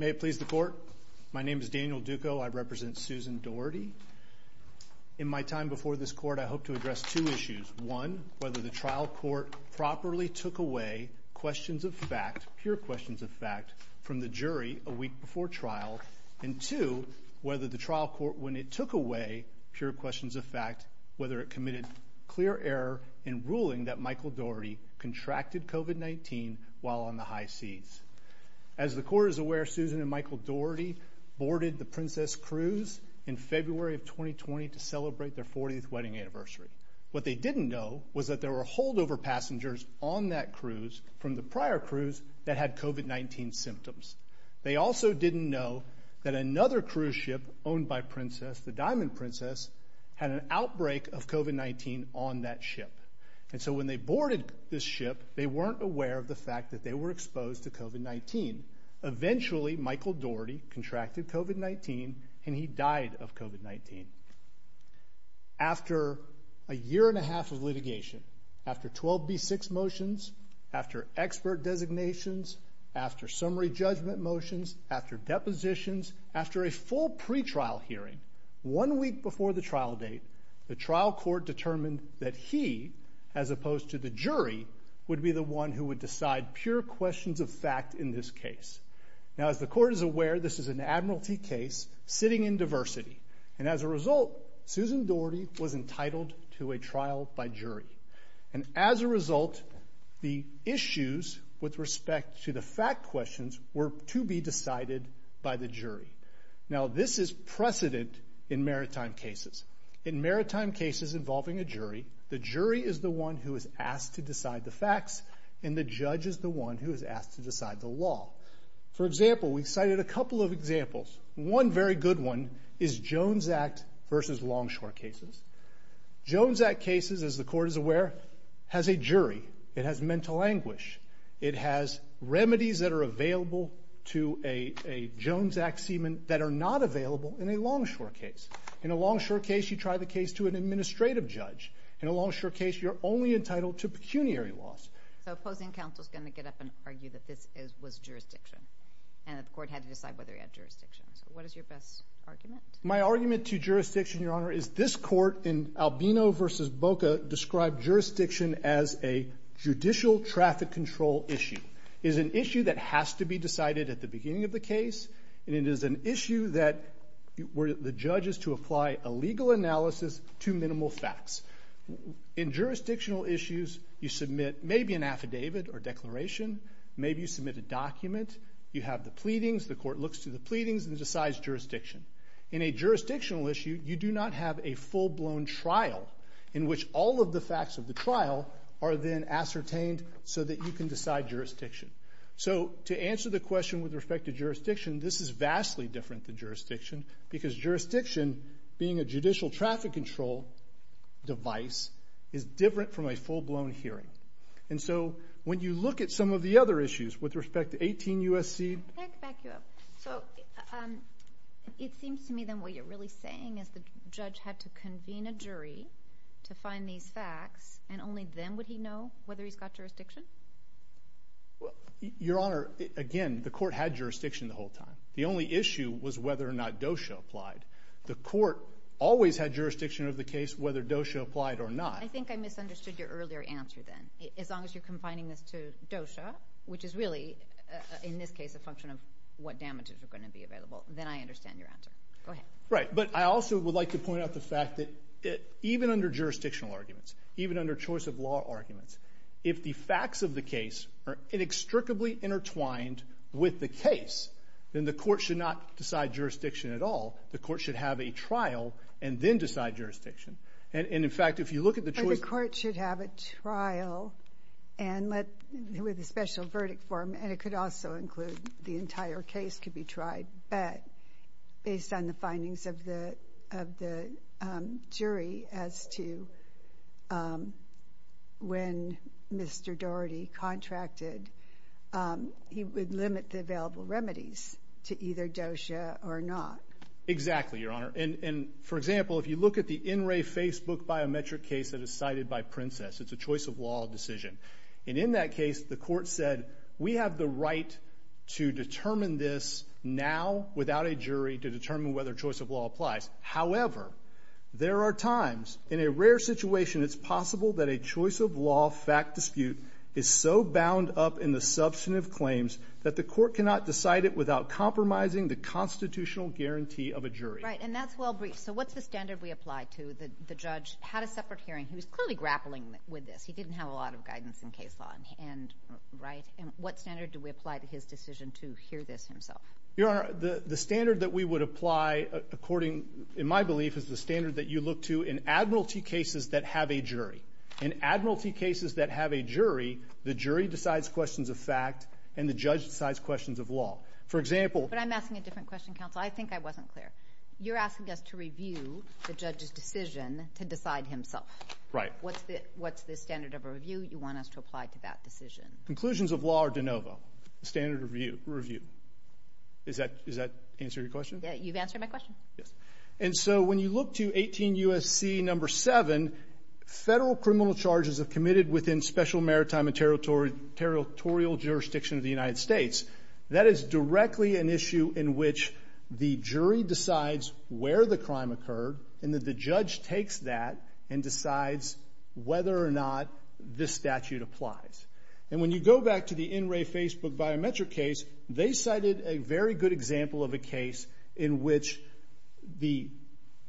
May it please the Court. My name is Daniel Duco. I represent Susan Dorety. In my time before this Court, I hope to address two issues. One, whether the trial court properly took away questions of fact, pure questions of fact, from the jury a week before trial. And two, whether the trial court, when it took away pure questions of fact, whether it committed clear error in ruling that Michael Dorety contracted COVID-19 while on the high seas. As the Court is aware, Susan and Michael Dorety boarded the Princess Cruise in February of 2020 to celebrate their 40th wedding anniversary. What they didn't know was that there were holdover passengers on that cruise from the prior cruise that had COVID-19 symptoms. They also didn't know that another cruise ship owned by Princess, the Diamond Princess, had an outbreak of COVID-19 on that ship. And so when they boarded this ship, they weren't aware of the fact that they were exposed to COVID-19. Eventually, Michael Dorety contracted COVID-19, and he died of COVID-19. After a year and a half of litigation, after 12B6 motions, after expert designations, after summary judgment motions, after depositions, after a full pretrial hearing, one week before the trial date, the trial court determined that he, as opposed to the jury, would be the one who would decide pure questions of fact in this case. Now, as the Court is aware, this is an admiralty case sitting in diversity. And as a result, Susan Dorety was entitled to a trial by jury. And as a result, the issues with respect to the fact questions were to be decided by the jury. Now, this is precedent in maritime cases. In maritime cases involving a jury, the jury is the one who is asked to decide the facts, and the judge is the one who is asked to decide the law. For example, we cited a couple of examples. One very good one is Jones Act versus longshore cases. Jones Act cases, as the Court is aware, has a jury. It has mental anguish. It has remedies that are available to a Jones Act seaman that are not available in a longshore case. In a longshore case, you try the case to an administrative judge. In a longshore case, you're only entitled to pecuniary laws. So opposing counsel is going to get up and argue that this was jurisdiction and that the Court had to decide whether it had jurisdiction. So what is your best argument? My argument to jurisdiction, Your Honor, is this Court in Albino versus Boca described jurisdiction as a judicial traffic control issue. It is an issue that has to be decided at the beginning of the case, and it is an issue that the judge is to apply a legal analysis to minimal facts. In jurisdictional issues, you submit maybe an affidavit or declaration. Maybe you submit a document. You have the pleadings. The Court looks through the pleadings and decides jurisdiction. In a jurisdictional issue, you do not have a full-blown trial in which all of the facts of the trial are then ascertained so that you can decide jurisdiction. So to answer the question with respect to jurisdiction, this is vastly different than jurisdiction because jurisdiction, being a judicial traffic control device, is different from a full-blown hearing. And so when you look at some of the other issues with respect to 18 U.S.C. Back you up. So it seems to me then what you're really saying is the judge had to convene a jury to find these facts, and only then would he know whether he's got jurisdiction? Your Honor, again, the Court had jurisdiction the whole time. The only issue was whether or not DOSHA applied. The Court always had jurisdiction of the case whether DOSHA applied or not. I think I misunderstood your earlier answer then. As long as you're confining this to DOSHA, which is really, in this case, a function of what damages are going to be available, then I understand your answer. Go ahead. Right, but I also would like to point out the fact that even under jurisdictional arguments, even under choice of law arguments, if the facts of the case are inextricably intertwined with the case, then the Court should not decide jurisdiction at all. The Court should have a trial and then decide jurisdiction. And, in fact, if you look at the choice of law arguments, the Court should have a trial and let the special verdict form, and it could also include the entire case could be tried, but based on the findings of the jury as to when Mr. Doherty contracted, he would limit the available remedies to either DOSHA or not. Exactly, Your Honor. And, for example, if you look at the NRA Facebook biometric case that is cited by Princess, it's a choice of law decision. And in that case, the Court said, we have the right to determine this now without a jury to determine whether choice of law applies. However, there are times in a rare situation it's possible that a choice of law fact dispute is so wound up in the substantive claims that the Court cannot decide it without compromising the constitutional guarantee of a jury. Right, and that's well briefed. So what's the standard we apply to the judge? Had a separate hearing. He was clearly grappling with this. He didn't have a lot of guidance in case law, right? And what standard do we apply to his decision to hear this himself? Your Honor, the standard that we would apply according, in my belief, is the standard that you look to in admiralty cases that have a jury. In admiralty cases that have a jury, the jury decides questions of fact and the judge decides questions of law. For example— But I'm asking a different question, counsel. I think I wasn't clear. You're asking us to review the judge's decision to decide himself. Right. What's the standard of a review you want us to apply to that decision? Conclusions of law are de novo. Standard review. Does that answer your question? Yeah, you've answered my question. Yes. And so when you look to 18 U.S.C. No. 7, federal criminal charges are committed within special maritime and territorial jurisdiction of the United States. That is directly an issue in which the jury decides where the crime occurred and that the judge takes that and decides whether or not this statute applies. And when you go back to the NRA Facebook biometric case, they cited a very good example of a case in which the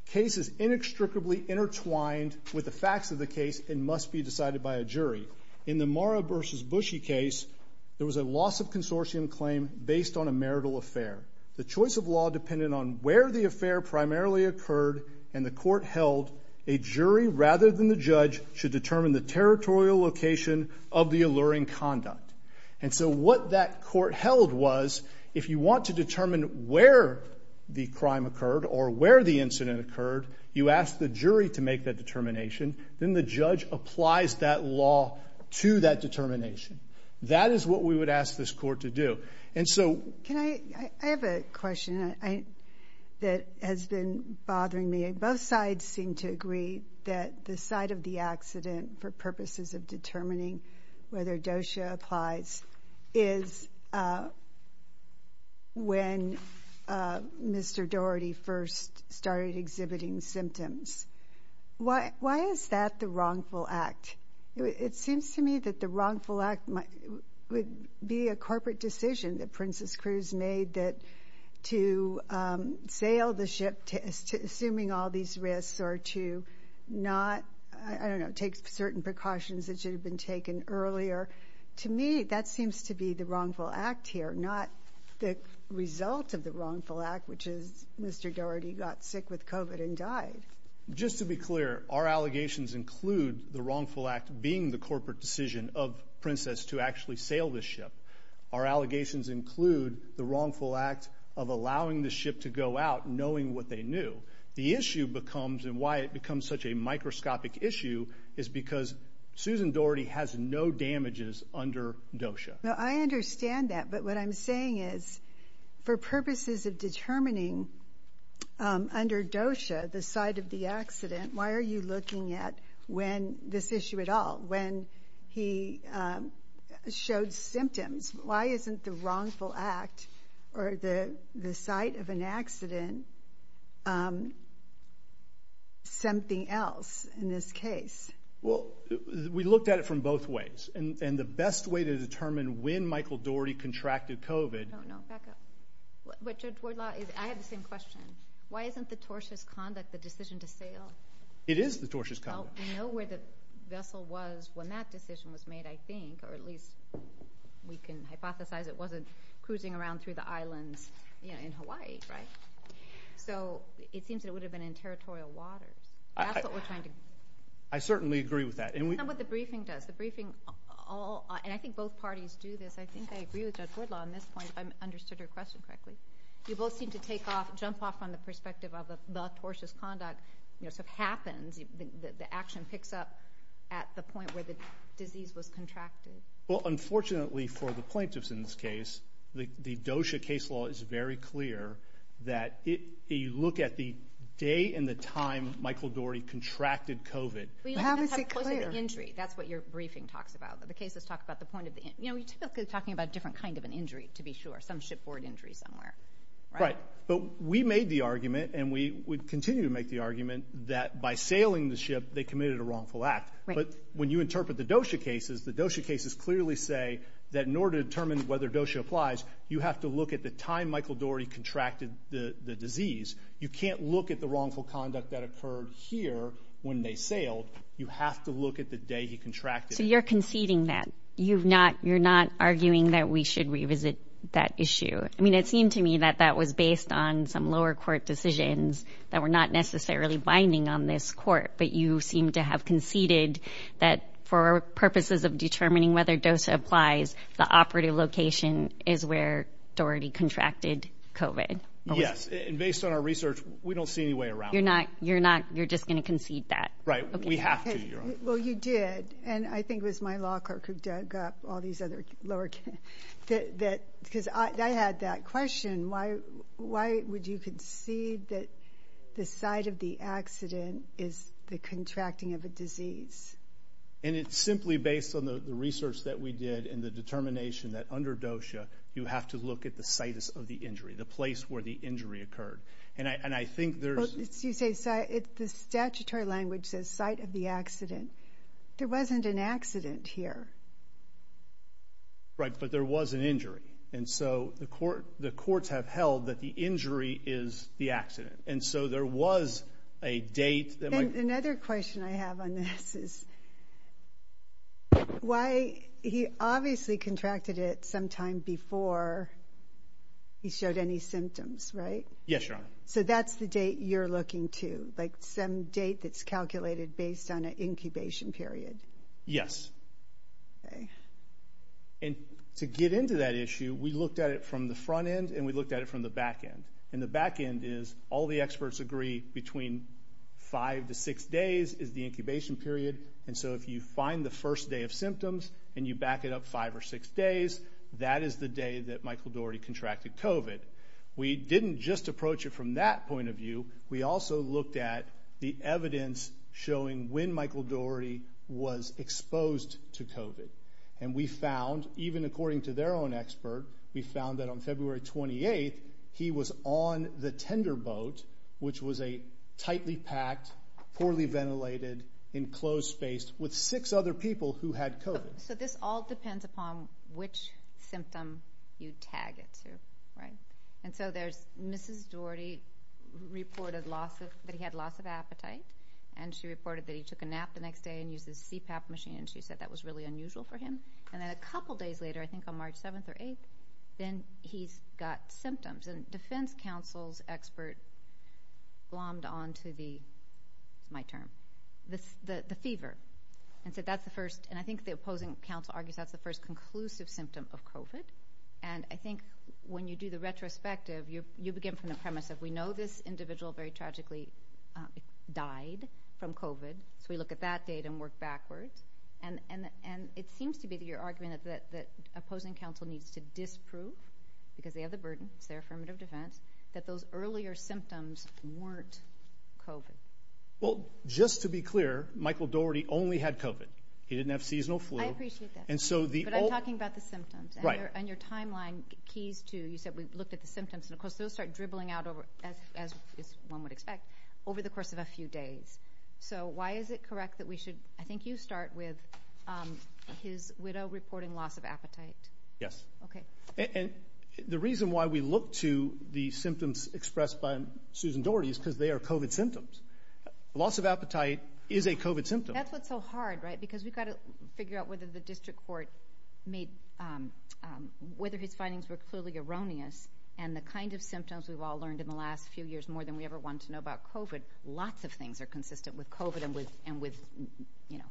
case is inextricably intertwined with the facts of the case and must be decided by a jury. In the Mara v. Bushy case, there was a loss of consortium claim based on a marital affair. The choice of law depended on where the affair primarily occurred, and the court held a jury rather than the judge should determine the territorial location of the alluring conduct. And so what that court held was, if you want to determine where the crime occurred or where the incident occurred, you ask the jury to make that determination. Then the judge applies that law to that determination. That is what we would ask this court to do. And so can I? I have a question that has been bothering me. Both sides seem to agree that the side of the accident for purposes of determining whether DOSHA applies is when Mr. Daugherty first started exhibiting symptoms. Why is that the wrongful act? It seems to me that the wrongful act would be a corporate decision that Princess Cruz made that to sail the ship assuming all these risks or to not take certain precautions that should have been taken earlier. To me, that seems to be the wrongful act here, not the result of the wrongful act, which is Mr. Daugherty got sick with COVID and died. Just to be clear, our allegations include the wrongful act being the corporate decision of Princess to actually sail the ship. Our allegations include the wrongful act of allowing the ship to go out knowing what they knew. The issue becomes, and why it becomes such a microscopic issue, is because Susan Daugherty has no damages under DOSHA. I understand that, but what I'm saying is for purposes of determining under DOSHA the site of the accident, why are you looking at this issue at all? When he showed symptoms, why isn't the wrongful act or the site of an accident something else in this case? Well, we looked at it from both ways, and the best way to determine when Michael Daugherty contracted COVID— Oh, no, back up. Judge Wardlaw, I have the same question. Why isn't the TORSHA's conduct the decision to sail? It is the TORSHA's conduct. Well, we know where the vessel was when that decision was made, I think, or at least we can hypothesize it wasn't cruising around through the islands in Hawaii, right? So it seems that it would have been in territorial waters. That's what we're trying to— I certainly agree with that. It's not what the briefing does. The briefing—and I think both parties do this. I think I agree with Judge Wardlaw on this point if I understood her question correctly. You both seem to jump off on the perspective of the TORSHA's conduct. So if it happens, the action picks up at the point where the disease was contracted. Well, unfortunately for the plaintiffs in this case, the DOSHA case law is very clear that if you look at the day and the time Michael Daugherty contracted COVID— How is it clear? That's what your briefing talks about. The cases talk about the point of the—you know, you're typically talking about a different kind of an injury to be sure, some shipboard injury somewhere, right? Right. But we made the argument, and we would continue to make the argument, that by sailing the ship, they committed a wrongful act. But when you interpret the DOSHA cases, the DOSHA cases clearly say that in order to determine whether DOSHA applies, you have to look at the time Michael Daugherty contracted the disease. You can't look at the wrongful conduct that occurred here when they sailed. You have to look at the day he contracted it. So you're conceding that? You're not arguing that we should revisit that issue? I mean, it seemed to me that that was based on some lower court decisions that were not necessarily binding on this court, but you seem to have conceded that for purposes of determining whether DOSHA applies, the operative location is where Daugherty contracted COVID. Yes. And based on our research, we don't see any way around it. You're not—you're just going to concede that? Right. We have to, Your Honor. Well, you did. And I think it was my law clerk who dug up all these other lower— because I had that question. Why would you concede that the site of the accident is the contracting of a disease? And it's simply based on the research that we did and the determination that under DOSHA you have to look at the situs of the injury, the place where the injury occurred. And I think there's— You say—the statutory language says site of the accident. There wasn't an accident here. Right, but there was an injury. And so the courts have held that the injury is the accident. And so there was a date that might— And another question I have on this is why— he obviously contracted it sometime before he showed any symptoms, right? Yes, Your Honor. So that's the date you're looking to, like some date that's calculated based on an incubation period? Yes. Okay. And to get into that issue, we looked at it from the front end and we looked at it from the back end. And the back end is all the experts agree between five to six days is the incubation period. And so if you find the first day of symptoms and you back it up five or six days, that is the day that Michael Dougherty contracted COVID. We didn't just approach it from that point of view. We also looked at the evidence showing when Michael Dougherty was exposed to COVID. And we found, even according to their own expert, we found that on February 28th he was on the tender boat, which was a tightly packed, poorly ventilated, enclosed space with six other people who had COVID. So this all depends upon which symptom you tag it to, right? And so there's Mrs. Dougherty reported that he had loss of appetite and she reported that he took a nap the next day and used his CPAP machine, and she said that was really unusual for him. And then a couple days later, I think on March 7th or 8th, then he's got symptoms. And defense counsel's expert glommed onto the fever. And I think the opposing counsel argues that's the first conclusive symptom of COVID. And I think when you do the retrospective, you begin from the premise that we know this individual very tragically died from COVID. So we look at that date and work backwards. And it seems to be that your argument that opposing counsel needs to disprove, because they have the burden, it's their affirmative defense, that those earlier symptoms weren't COVID. Well, just to be clear, Michael Dougherty only had COVID. He didn't have seasonal flu. I appreciate that. But I'm talking about the symptoms. Right. And your timeline keys to you said we looked at the symptoms. And, of course, those start dribbling out over, as one would expect, over the course of a few days. So why is it correct that we should – I think you start with his widow reporting loss of appetite. Yes. Okay. And the reason why we look to the symptoms expressed by Susan Dougherty is because they are COVID symptoms. Loss of appetite is a COVID symptom. That's what's so hard, right, because we've got to figure out whether the district court made – whether his findings were clearly erroneous. And the kind of symptoms we've all learned in the last few years, more than we ever wanted to know about COVID, lots of things are consistent with COVID and with, you know,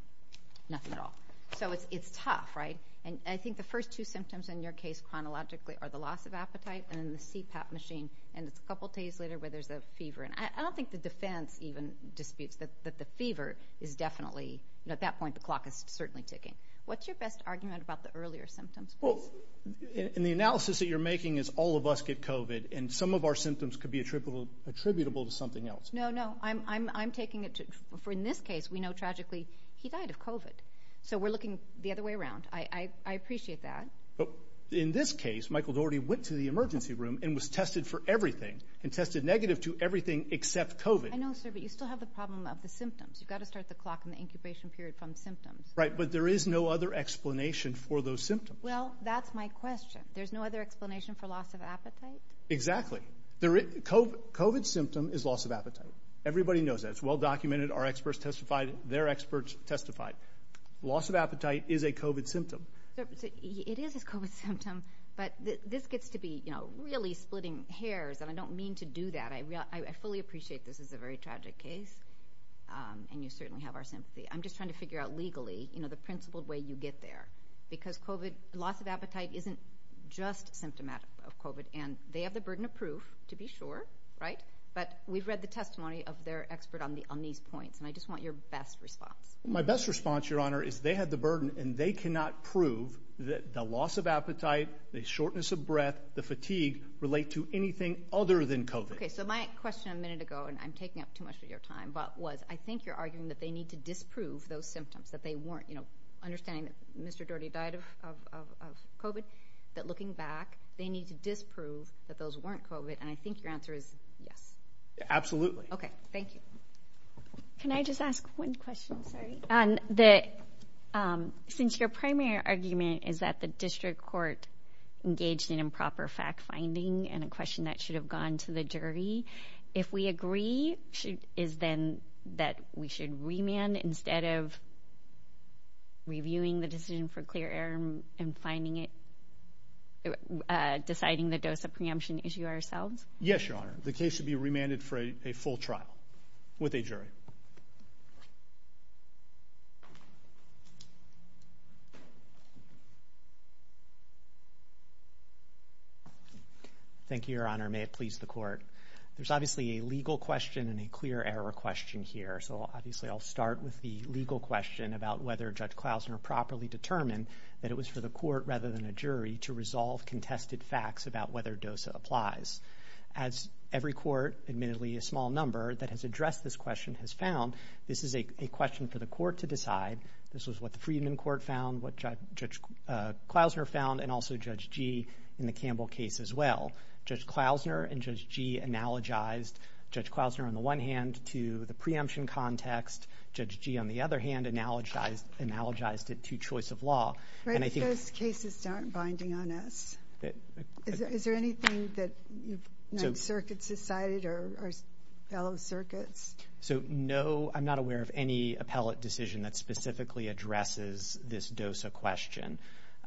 nothing at all. So it's tough, right? And I think the first two symptoms in your case chronologically are the loss of appetite and the CPAP machine. And it's a couple days later where there's a fever. And I don't think the defense even disputes that the fever is definitely – at that point, the clock is certainly ticking. What's your best argument about the earlier symptoms, please? Well, in the analysis that you're making is all of us get COVID, and some of our symptoms could be attributable to something else. No, no. I'm taking it to – for in this case, we know tragically he died of COVID. So we're looking the other way around. I appreciate that. In this case, Michael Dougherty went to the emergency room and was tested for everything and tested negative to everything except COVID. I know, sir, but you still have the problem of the symptoms. You've got to start the clock in the incubation period from symptoms. Right, but there is no other explanation for those symptoms. Well, that's my question. There's no other explanation for loss of appetite? Exactly. COVID's symptom is loss of appetite. Everybody knows that. It's well documented. Our experts testified. Their experts testified. Loss of appetite is a COVID symptom. It is a COVID symptom, but this gets to be, you know, really splitting hairs, and I don't mean to do that. I fully appreciate this is a very tragic case, and you certainly have our sympathy. I'm just trying to figure out legally, you know, the principled way you get there because COVID – loss of appetite isn't just symptomatic of COVID, and they have the burden of proof, to be sure, right? But we've read the testimony of their expert on these points, and I just want your best response. My best response, Your Honor, is they have the burden, and they cannot prove that the loss of appetite, the shortness of breath, the fatigue relate to anything other than COVID. Okay, so my question a minute ago, and I'm taking up too much of your time, was I think you're arguing that they need to disprove those symptoms, that they weren't, you know, understanding that Mr. Doherty died of COVID, that looking back, they need to disprove that those weren't COVID, and I think your answer is yes. Absolutely. Okay, thank you. Can I just ask one question? Sorry. Since your primary argument is that the district court engaged in improper fact-finding and a question that should have gone to the jury, if we agree, is then that we should remand instead of reviewing the decision for clear error and deciding the dose of preemption issue ourselves? Yes, Your Honor. The case should be remanded for a full trial with a jury. Thank you, Your Honor. May it please the court. There's obviously a legal question and a clear error question here, so obviously I'll start with the legal question about whether Judge Klausner properly determined that it was for the court rather than a jury to resolve contested facts about whether DOSA applies. As every court, admittedly a small number, that has addressed this question has found, this is a question for the court to decide. This was what the Freedman Court found, what Judge Klausner found, and also Judge Gee in the Campbell case as well. Judge Klausner and Judge Gee analogized Judge Klausner on the one hand to the preemption context. Judge Gee, on the other hand, analogized it to choice of law. Right. Those cases aren't binding on us. Is there anything that the circuits decided or our fellow circuits? So no, I'm not aware of any appellate decision that specifically addresses this DOSA question.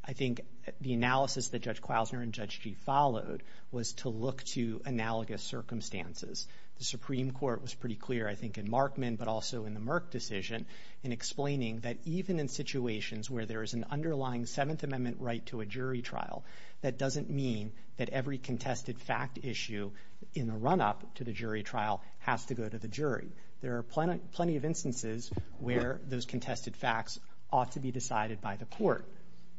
I think the analysis that Judge Klausner and Judge Gee followed was to look to analogous circumstances. The Supreme Court was pretty clear, I think, in Markman but also in the Merck decision in explaining that even in situations where there is an underlying Seventh Amendment right to a jury trial, that doesn't mean that every contested fact issue in the run-up to the jury trial has to go to the jury. There are plenty of instances where those contested facts ought to be decided by the court.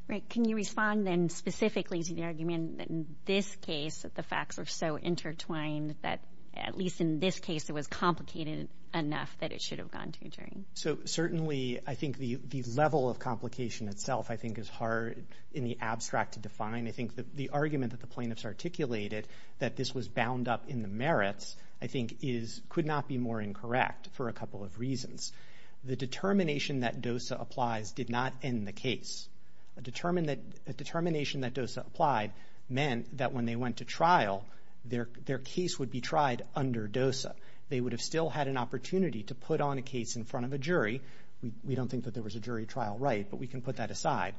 Right. Can you respond then specifically to the argument that in this case the facts are so intertwined that at least in this case it was complicated enough that it should have gone to a jury? So certainly I think the level of complication itself I think is hard in the abstract to define. I think the argument that the plaintiffs articulated, that this was bound up in the merits, I think could not be more incorrect for a couple of reasons. The determination that DOSA applies did not end the case. A determination that DOSA applied meant that when they went to trial, their case would be tried under DOSA. They would have still had an opportunity to put on a case in front of a jury. We don't think that there was a jury trial right, but we can put that aside.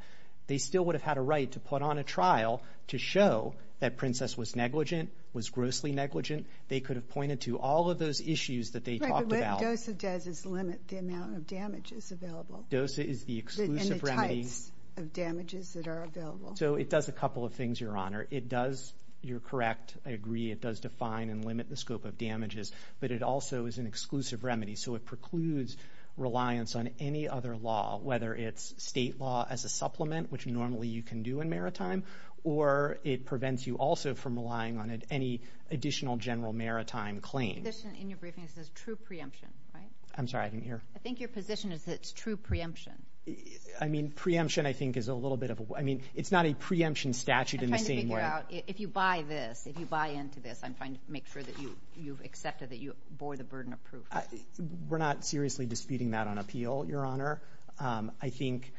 They still would have had a right to put on a trial to show that Princess was negligent, was grossly negligent. They could have pointed to all of those issues that they talked about. Right, but what DOSA does is limit the amount of damages available. DOSA is the exclusive remedy. And the types of damages that are available. So it does a couple of things, Your Honor. It does, you're correct, I agree, it does define and limit the scope of damages. But it also is an exclusive remedy. So it precludes reliance on any other law, whether it's state law as a supplement, which normally you can do in maritime, or it prevents you also from relying on any additional general maritime claim. In your briefing it says true preemption, right? I'm sorry, I didn't hear. I think your position is that it's true preemption. I mean, preemption I think is a little bit of a, I mean, it's not a preemption statute in the same way. If you buy this, if you buy into this, I'm trying to make sure that you've accepted that you bore the burden of proof. We're not seriously disputing that on appeal, Your Honor. I think...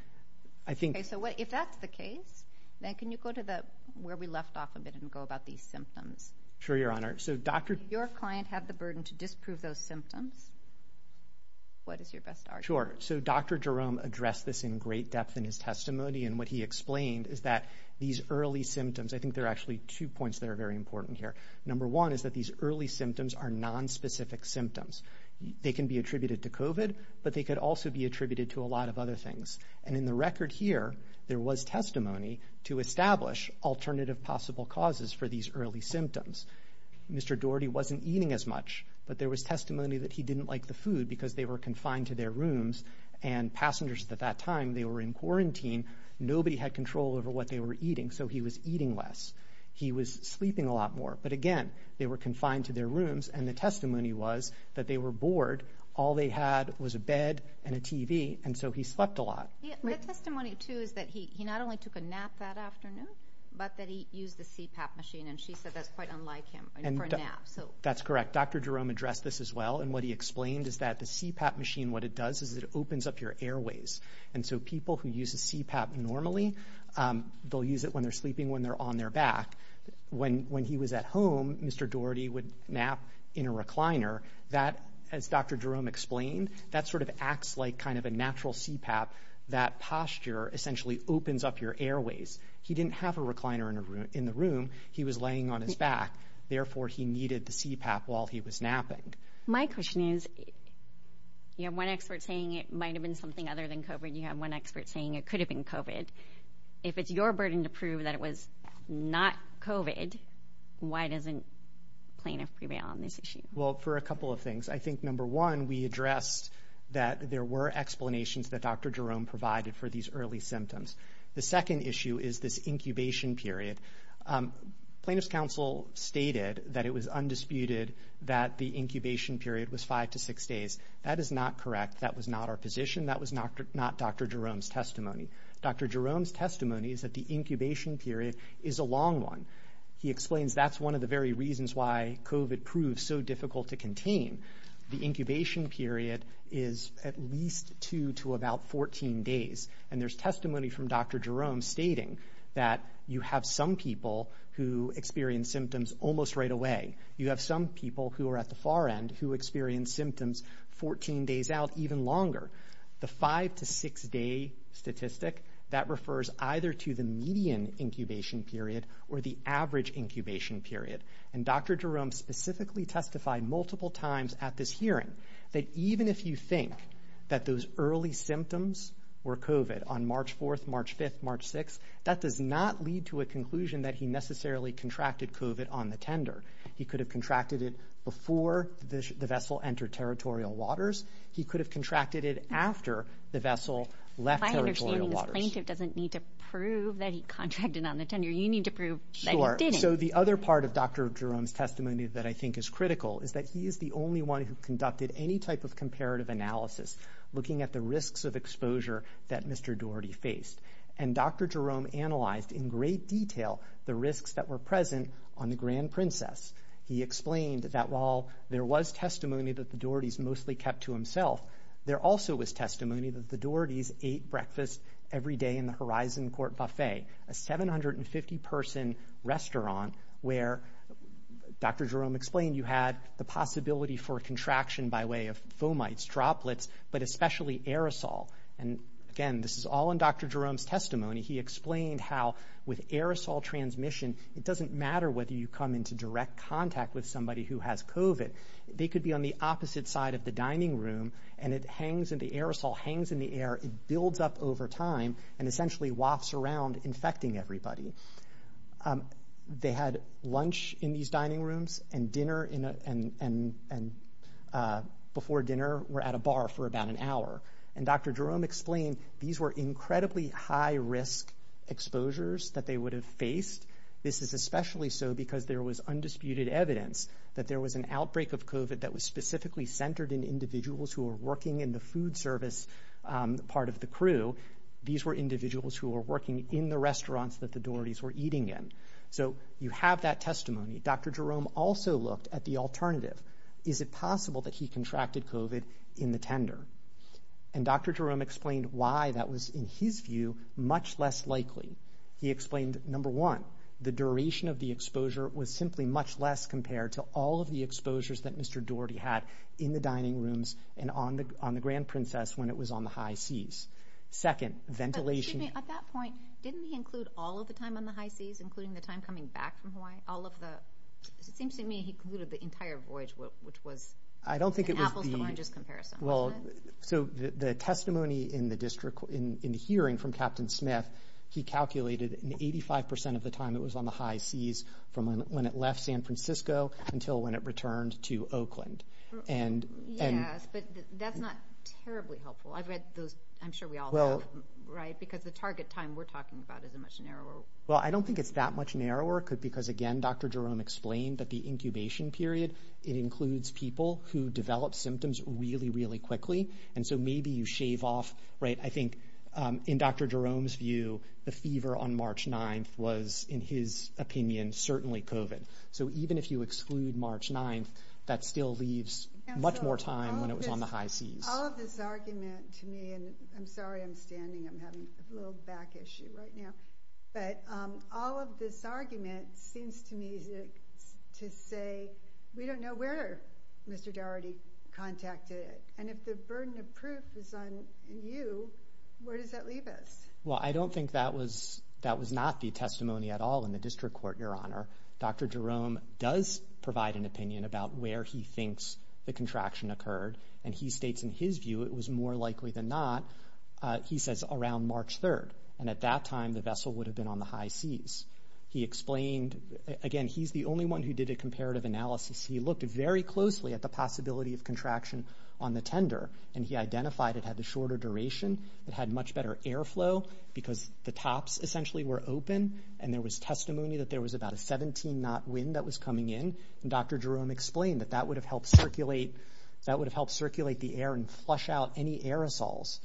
Okay, so if that's the case, then can you go to where we left off a minute ago about these symptoms? Sure, Your Honor. If your client had the burden to disprove those symptoms, what is your best argument? Sure. So Dr. Jerome addressed this in great depth in his testimony. And what he explained is that these early symptoms, I think there are actually two points that are very important here. Number one is that these early symptoms are nonspecific symptoms. They can be attributed to COVID, but they could also be attributed to a lot of other things. And in the record here, there was testimony to establish alternative possible causes for these early symptoms. Mr. Daugherty wasn't eating as much, but there was testimony that he didn't like the food because they were confined to their rooms. And passengers at that time, they were in quarantine. Nobody had control over what they were eating, so he was eating less. He was sleeping a lot more. But again, they were confined to their rooms, and the testimony was that they were bored. All they had was a bed and a TV, and so he slept a lot. The testimony, too, is that he not only took a nap that afternoon, but that he used the CPAP machine. And she said that's quite unlike him for a nap. That's correct. Dr. Jerome addressed this as well. And what he explained is that the CPAP machine, what it does is it opens up your airways. And so people who use a CPAP normally, they'll use it when they're sleeping, when they're on their back. When he was at home, Mr. Daugherty would nap in a recliner. That, as Dr. Jerome explained, that sort of acts like kind of a natural CPAP. That posture essentially opens up your airways. He didn't have a recliner in the room. He was laying on his back. Therefore, he needed the CPAP while he was napping. My question is, you have one expert saying it might have been something other than COVID. You have one expert saying it could have been COVID. If it's your burden to prove that it was not COVID, why doesn't plaintiff prevail on this issue? Well, for a couple of things. I think, number one, we addressed that there were explanations that Dr. Jerome provided for these early symptoms. The second issue is this incubation period. Plaintiff's counsel stated that it was undisputed that the incubation period was five to six days. That is not correct. That was not our position. That was not Dr. Jerome's testimony. Dr. Jerome's testimony is that the incubation period is a long one. He explains that's one of the very reasons why COVID proved so difficult to contain. The incubation period is at least two to about 14 days. And there's testimony from Dr. Jerome stating that you have some people who experience symptoms almost right away. You have some people who are at the far end who experience symptoms 14 days out, even longer. The five to six day statistic, that refers either to the median incubation period or the average incubation period. And Dr. Jerome specifically testified multiple times at this hearing that even if you think that those early symptoms were COVID on March 4th, March 5th, March 6th, that does not lead to a conclusion that he necessarily contracted COVID on the tender. He could have contracted it before the vessel entered territorial waters. He could have contracted it after the vessel left territorial waters. My understanding is plaintiff doesn't need to prove that he contracted on the tender. You need to prove that he didn't. So the other part of Dr. Jerome's testimony that I think is critical is that he is the only one who conducted any type of comparative analysis looking at the risks of exposure that Mr. Doherty faced. And Dr. Jerome analyzed in great detail the risks that were present on the Grand Princess. He explained that while there was testimony that the Doherty's mostly kept to himself, there also was testimony that the Doherty's ate breakfast every day in the Horizon Court Buffet, a 750-person restaurant where Dr. Jerome explained you had the possibility for contraction by way of fomites, droplets, but especially aerosol. And again, this is all in Dr. Jerome's testimony. He explained how with aerosol transmission, it doesn't matter whether you come into direct contact with somebody who has COVID. They could be on the opposite side of the dining room, and the aerosol hangs in the air. It builds up over time and essentially wafts around infecting everybody. They had lunch in these dining rooms and dinner and before dinner were at a bar for about an hour. And Dr. Jerome explained these were incredibly high-risk exposures that they would have faced. This is especially so because there was undisputed evidence that there was an outbreak of COVID that was specifically centered in individuals who were working in the food service part of the crew. These were individuals who were working in the restaurants that the Doherty's were eating in. So you have that testimony. Dr. Jerome also looked at the alternative. Is it possible that he contracted COVID in the tender? And Dr. Jerome explained why that was, in his view, much less likely. He explained, number one, the duration of the exposure was simply much less compared to all of the exposures that Mr. Doherty had in the dining rooms and on the Grand Princess when it was on the high seas. Second, ventilation... But, excuse me, at that point, didn't he include all of the time on the high seas, including the time coming back from Hawaii, all of the... It seems to me he included the entire voyage, which was an apples to oranges comparison. So the testimony in the hearing from Captain Smith, he calculated that 85% of the time it was on the high seas from when it left San Francisco until when it returned to Oakland. Yes, but that's not terribly helpful. I'm sure we all know, right? Because the target time we're talking about is much narrower. Well, I don't think it's that much narrower because, again, Dr. Jerome explained that the incubation period, it includes people who develop symptoms really, really quickly. And so maybe you shave off, right? I think in Dr. Jerome's view, the fever on March 9th was, in his opinion, certainly COVID. So even if you exclude March 9th, that still leaves much more time when it was on the high seas. All of this argument to me, and I'm sorry I'm standing. I'm having a little back issue right now. But all of this argument seems to me to say we don't know where Mr. Dougherty contacted it. And if the burden of proof is on you, where does that leave us? Well, I don't think that was not the testimony at all in the district court, Your Honor. Dr. Jerome does provide an opinion about where he thinks the contraction occurred, and he states in his view it was more likely than not, he says, around March 3rd. And at that time, the vessel would have been on the high seas. He explained, again, he's the only one who did a comparative analysis. He looked very closely at the possibility of contraction on the tender, and he identified it had the shorter duration, it had much better airflow, because the tops essentially were open, and there was testimony that there was about a 17-knot wind that was coming in. And Dr. Jerome explained that that would have helped circulate the air and flush out any aerosols.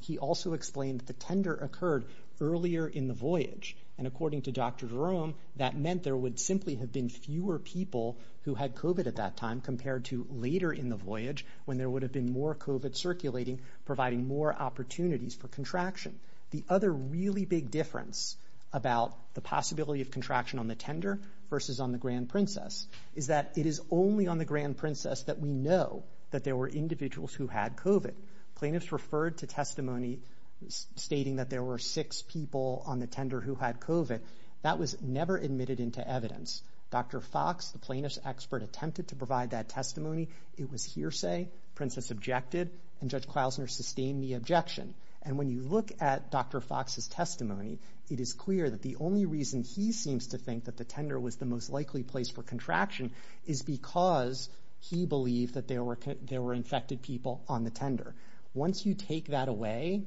He also explained that the tender occurred earlier in the voyage, and according to Dr. Jerome, that meant there would simply have been fewer people who had COVID at that time compared to later in the voyage when there would have been more COVID circulating, providing more opportunities for contraction. The other really big difference about the possibility of contraction on the tender versus on the Grand Princess is that it is only on the Grand Princess that we know that there were individuals who had COVID. Plaintiffs referred to testimony stating that there were six people on the tender who had COVID. That was never admitted into evidence. Dr. Fox, the plaintiff's expert, attempted to provide that testimony. It was hearsay. Princess objected, and Judge Klausner sustained the objection. And when you look at Dr. Fox's testimony, it is clear that the only reason he seems to think that the tender was the most likely place for contraction is because he believed that there were infected people on the tender. Once you take that away,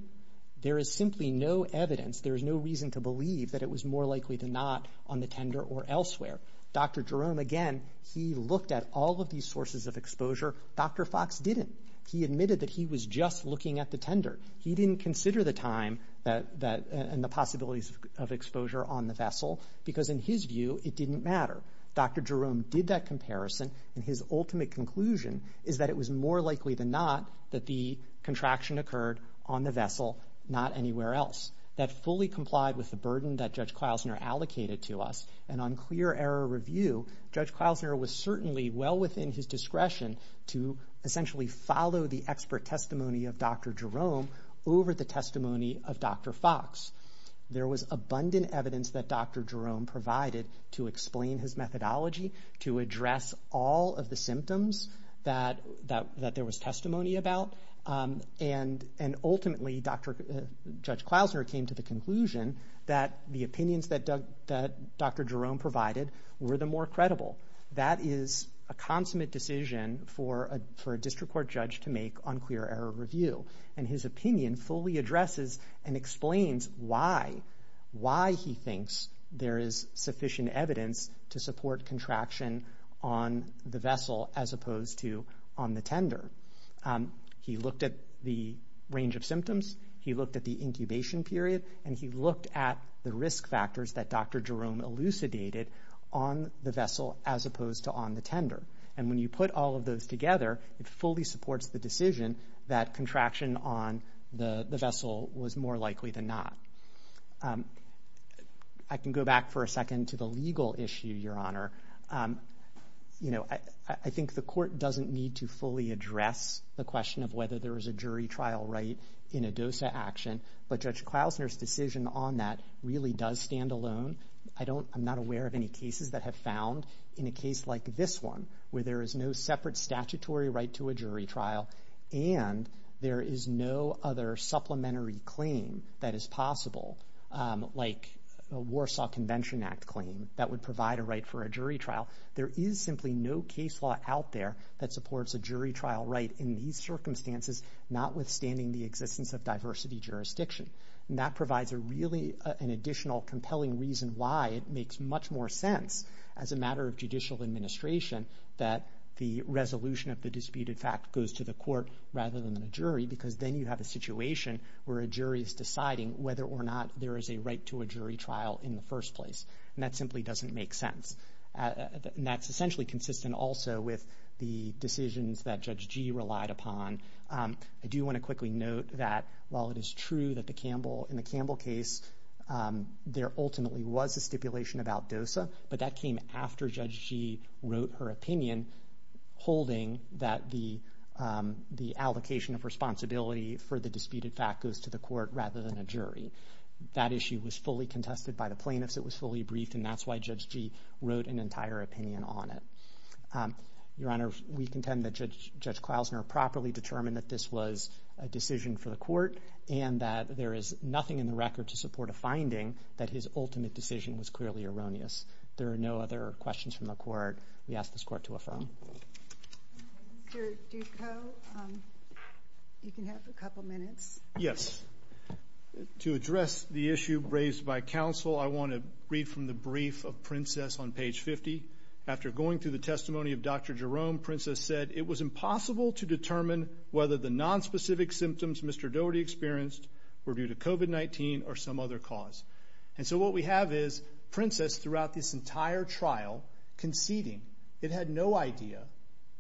there is simply no evidence, there is no reason to believe that it was more likely than not on the tender or elsewhere. Dr. Jerome, again, he looked at all of these sources of exposure. Dr. Fox didn't. He admitted that he was just looking at the tender. He didn't consider the time and the possibilities of exposure on the vessel because, in his view, it didn't matter. Dr. Jerome did that comparison, and his ultimate conclusion is that it was more likely than not that the contraction occurred on the vessel, not anywhere else. That fully complied with the burden that Judge Klausner allocated to us, and on clear error review, Judge Klausner was certainly well within his discretion to essentially follow the expert testimony of Dr. Jerome over the testimony of Dr. Fox. There was abundant evidence that Dr. Jerome provided to explain his methodology, to address all of the symptoms that there was testimony about, and ultimately, Judge Klausner came to the conclusion that the opinions that Dr. Jerome provided were the more credible. That is a consummate decision for a district court judge to make on clear error review, and his opinion fully addresses and explains why he thinks there is sufficient evidence to support contraction on the vessel as opposed to on the tender. He looked at the range of symptoms. He looked at the incubation period, and he looked at the risk factors that Dr. Jerome elucidated on the vessel as opposed to on the tender. And when you put all of those together, it fully supports the decision that contraction on the vessel was more likely than not. I can go back for a second to the legal issue, Your Honor. I think the court doesn't need to fully address the question of whether there is a jury trial right in a DOSA action, but Judge Klausner's decision on that really does stand alone. I'm not aware of any cases that have found in a case like this one, where there is no separate statutory right to a jury trial and there is no other supplementary claim that is possible, like a Warsaw Convention Act claim that would provide a right for a jury trial. There is simply no case law out there that supports a jury trial right in these circumstances, notwithstanding the existence of diversity jurisdiction. And that provides really an additional compelling reason why it makes much more sense, as a matter of judicial administration, that the resolution of the disputed fact goes to the court rather than the jury because then you have a situation where a jury is deciding whether or not there is a right to a jury trial in the first place. And that simply doesn't make sense. And that's essentially consistent also with the decisions that Judge Gee relied upon. I do want to quickly note that while it is true that in the Campbell case, there ultimately was a stipulation about DOSA, but that came after Judge Gee wrote her opinion holding that the allocation of responsibility for the disputed fact goes to the court rather than a jury. That issue was fully contested by the plaintiffs. It was fully briefed, and that's why Judge Gee wrote an entire opinion on it. Your Honor, we contend that Judge Klausner properly determined that this was a decision for the court and that there is nothing in the record to support a finding that his ultimate decision was clearly erroneous. There are no other questions from the court. We ask this court to affirm. Mr. Duco, you can have a couple minutes. Yes. To address the issue raised by counsel, I want to read from the brief of Princess on page 50. After going through the testimony of Dr. Jerome, Princess said, it was impossible to determine whether the nonspecific symptoms Mr. Doherty experienced were due to COVID-19 or some other cause. And so what we have is Princess, throughout this entire trial, conceding. It had no idea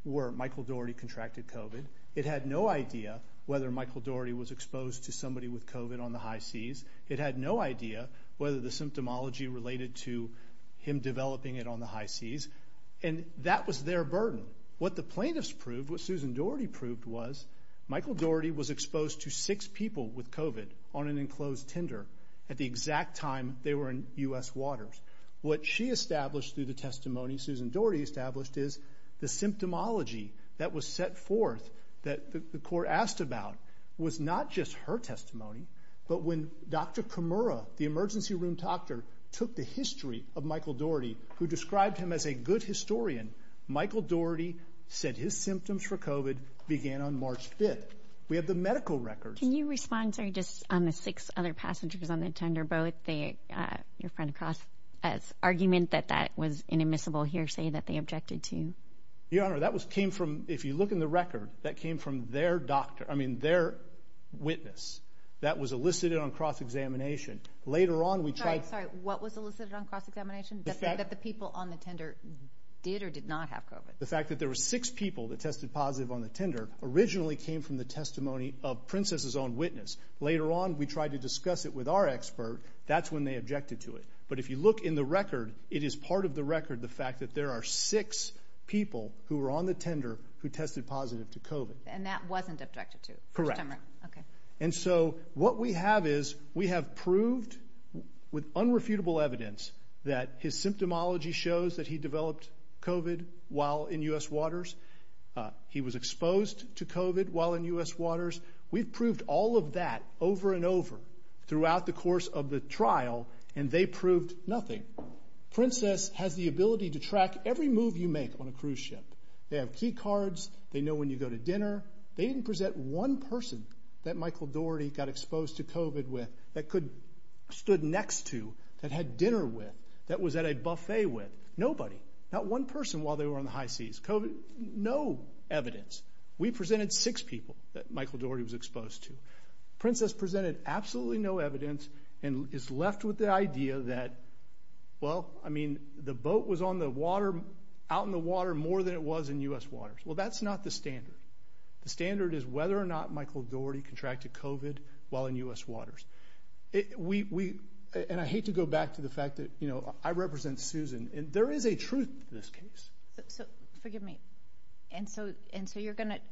where Michael Doherty contracted COVID. It had no idea whether Michael Doherty was exposed to somebody with COVID on the high seas. It had no idea whether the symptomology related to him developing it on the high seas. And that was their burden. What the plaintiffs proved, what Susan Doherty proved, was Michael Doherty was exposed to six people with COVID on an enclosed tender at the exact time they were in U.S. waters. What she established through the testimony Susan Doherty established is the symptomology that was set forth that the court asked about was not just her testimony, but when Dr. Kimura, the emergency room doctor, took the history of Michael Doherty, who described him as a good historian, Michael Doherty said his symptoms for COVID began on March 5th. We have the medical records. Can you respond, sorry, just on the six other passengers on the tender, both your friend Cross's argument that that was an admissible hearsay that they objected to? Your Honor, that came from, if you look in the record, that came from their doctor, I mean their witness that was elicited on cross-examination. Later on we checked. Sorry, what was elicited on cross-examination? That the people on the tender did or did not have COVID. The fact that there were six people that tested positive on the tender originally came from the testimony of Princess's own witness. Later on we tried to discuss it with our expert. That's when they objected to it. But if you look in the record, it is part of the record, the fact that there are six people who were on the tender who tested positive to COVID. And that wasn't objected to? Correct. Okay. And so what we have is we have proved with unrefutable evidence that his symptomology shows that he developed COVID while in U.S. waters. He was exposed to COVID while in U.S. waters. We've proved all of that over and over throughout the course of the trial, and they proved nothing. Princess has the ability to track every move you make on a cruise ship. They have key cards. They know when you go to dinner. They didn't present one person that Michael Dougherty got exposed to COVID with that stood next to, that had dinner with, that was at a buffet with. Nobody. Not one person while they were on the high seas. No evidence. We presented six people that Michael Dougherty was exposed to. Princess presented absolutely no evidence and is left with the idea that, well, I mean, the boat was out in the water more than it was in U.S. waters. Well, that's not the standard. The standard is whether or not Michael Dougherty contracted COVID while in U.S. waters. And I hate to go back to the fact that, you know, I represent Susan, and there is a truth to this case. So forgive me. And so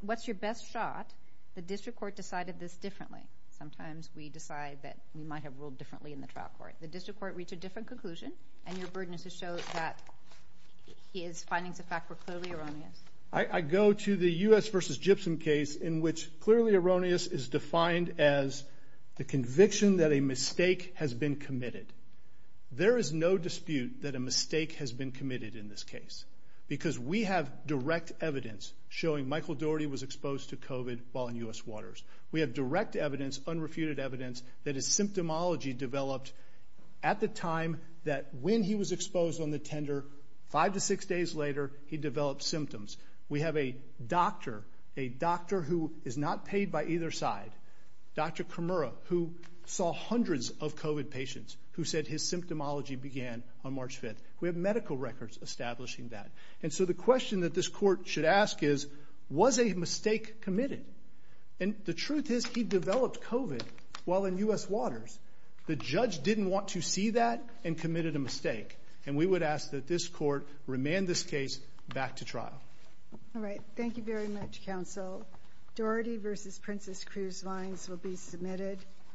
what's your best shot? The district court decided this differently. Sometimes we decide that we might have ruled differently in the trial court. The district court reached a different conclusion, and your burden is to show that his findings of fact were clearly erroneous. I go to the U.S. versus Gypsum case, in which clearly erroneous is defined as the conviction that a mistake has been committed. There is no dispute that a mistake has been committed in this case because we have direct evidence showing Michael Dougherty was exposed to COVID while in U.S. waters. We have direct evidence, unrefuted evidence, that his symptomology developed at the time that when he was exposed on the tender, five to six days later, he developed symptoms. We have a doctor, a doctor who is not paid by either side, Dr. Kimura, who saw hundreds of COVID patients, who said his symptomology began on March 5th. We have medical records establishing that. And so the question that this court should ask is, was a mistake committed? And the truth is he developed COVID while in U.S. waters. The judge didn't want to see that and committed a mistake. And we would ask that this court remand this case back to trial. All right. Thank you very much, counsel. Dougherty v. Princess Cruz vines will be submitted.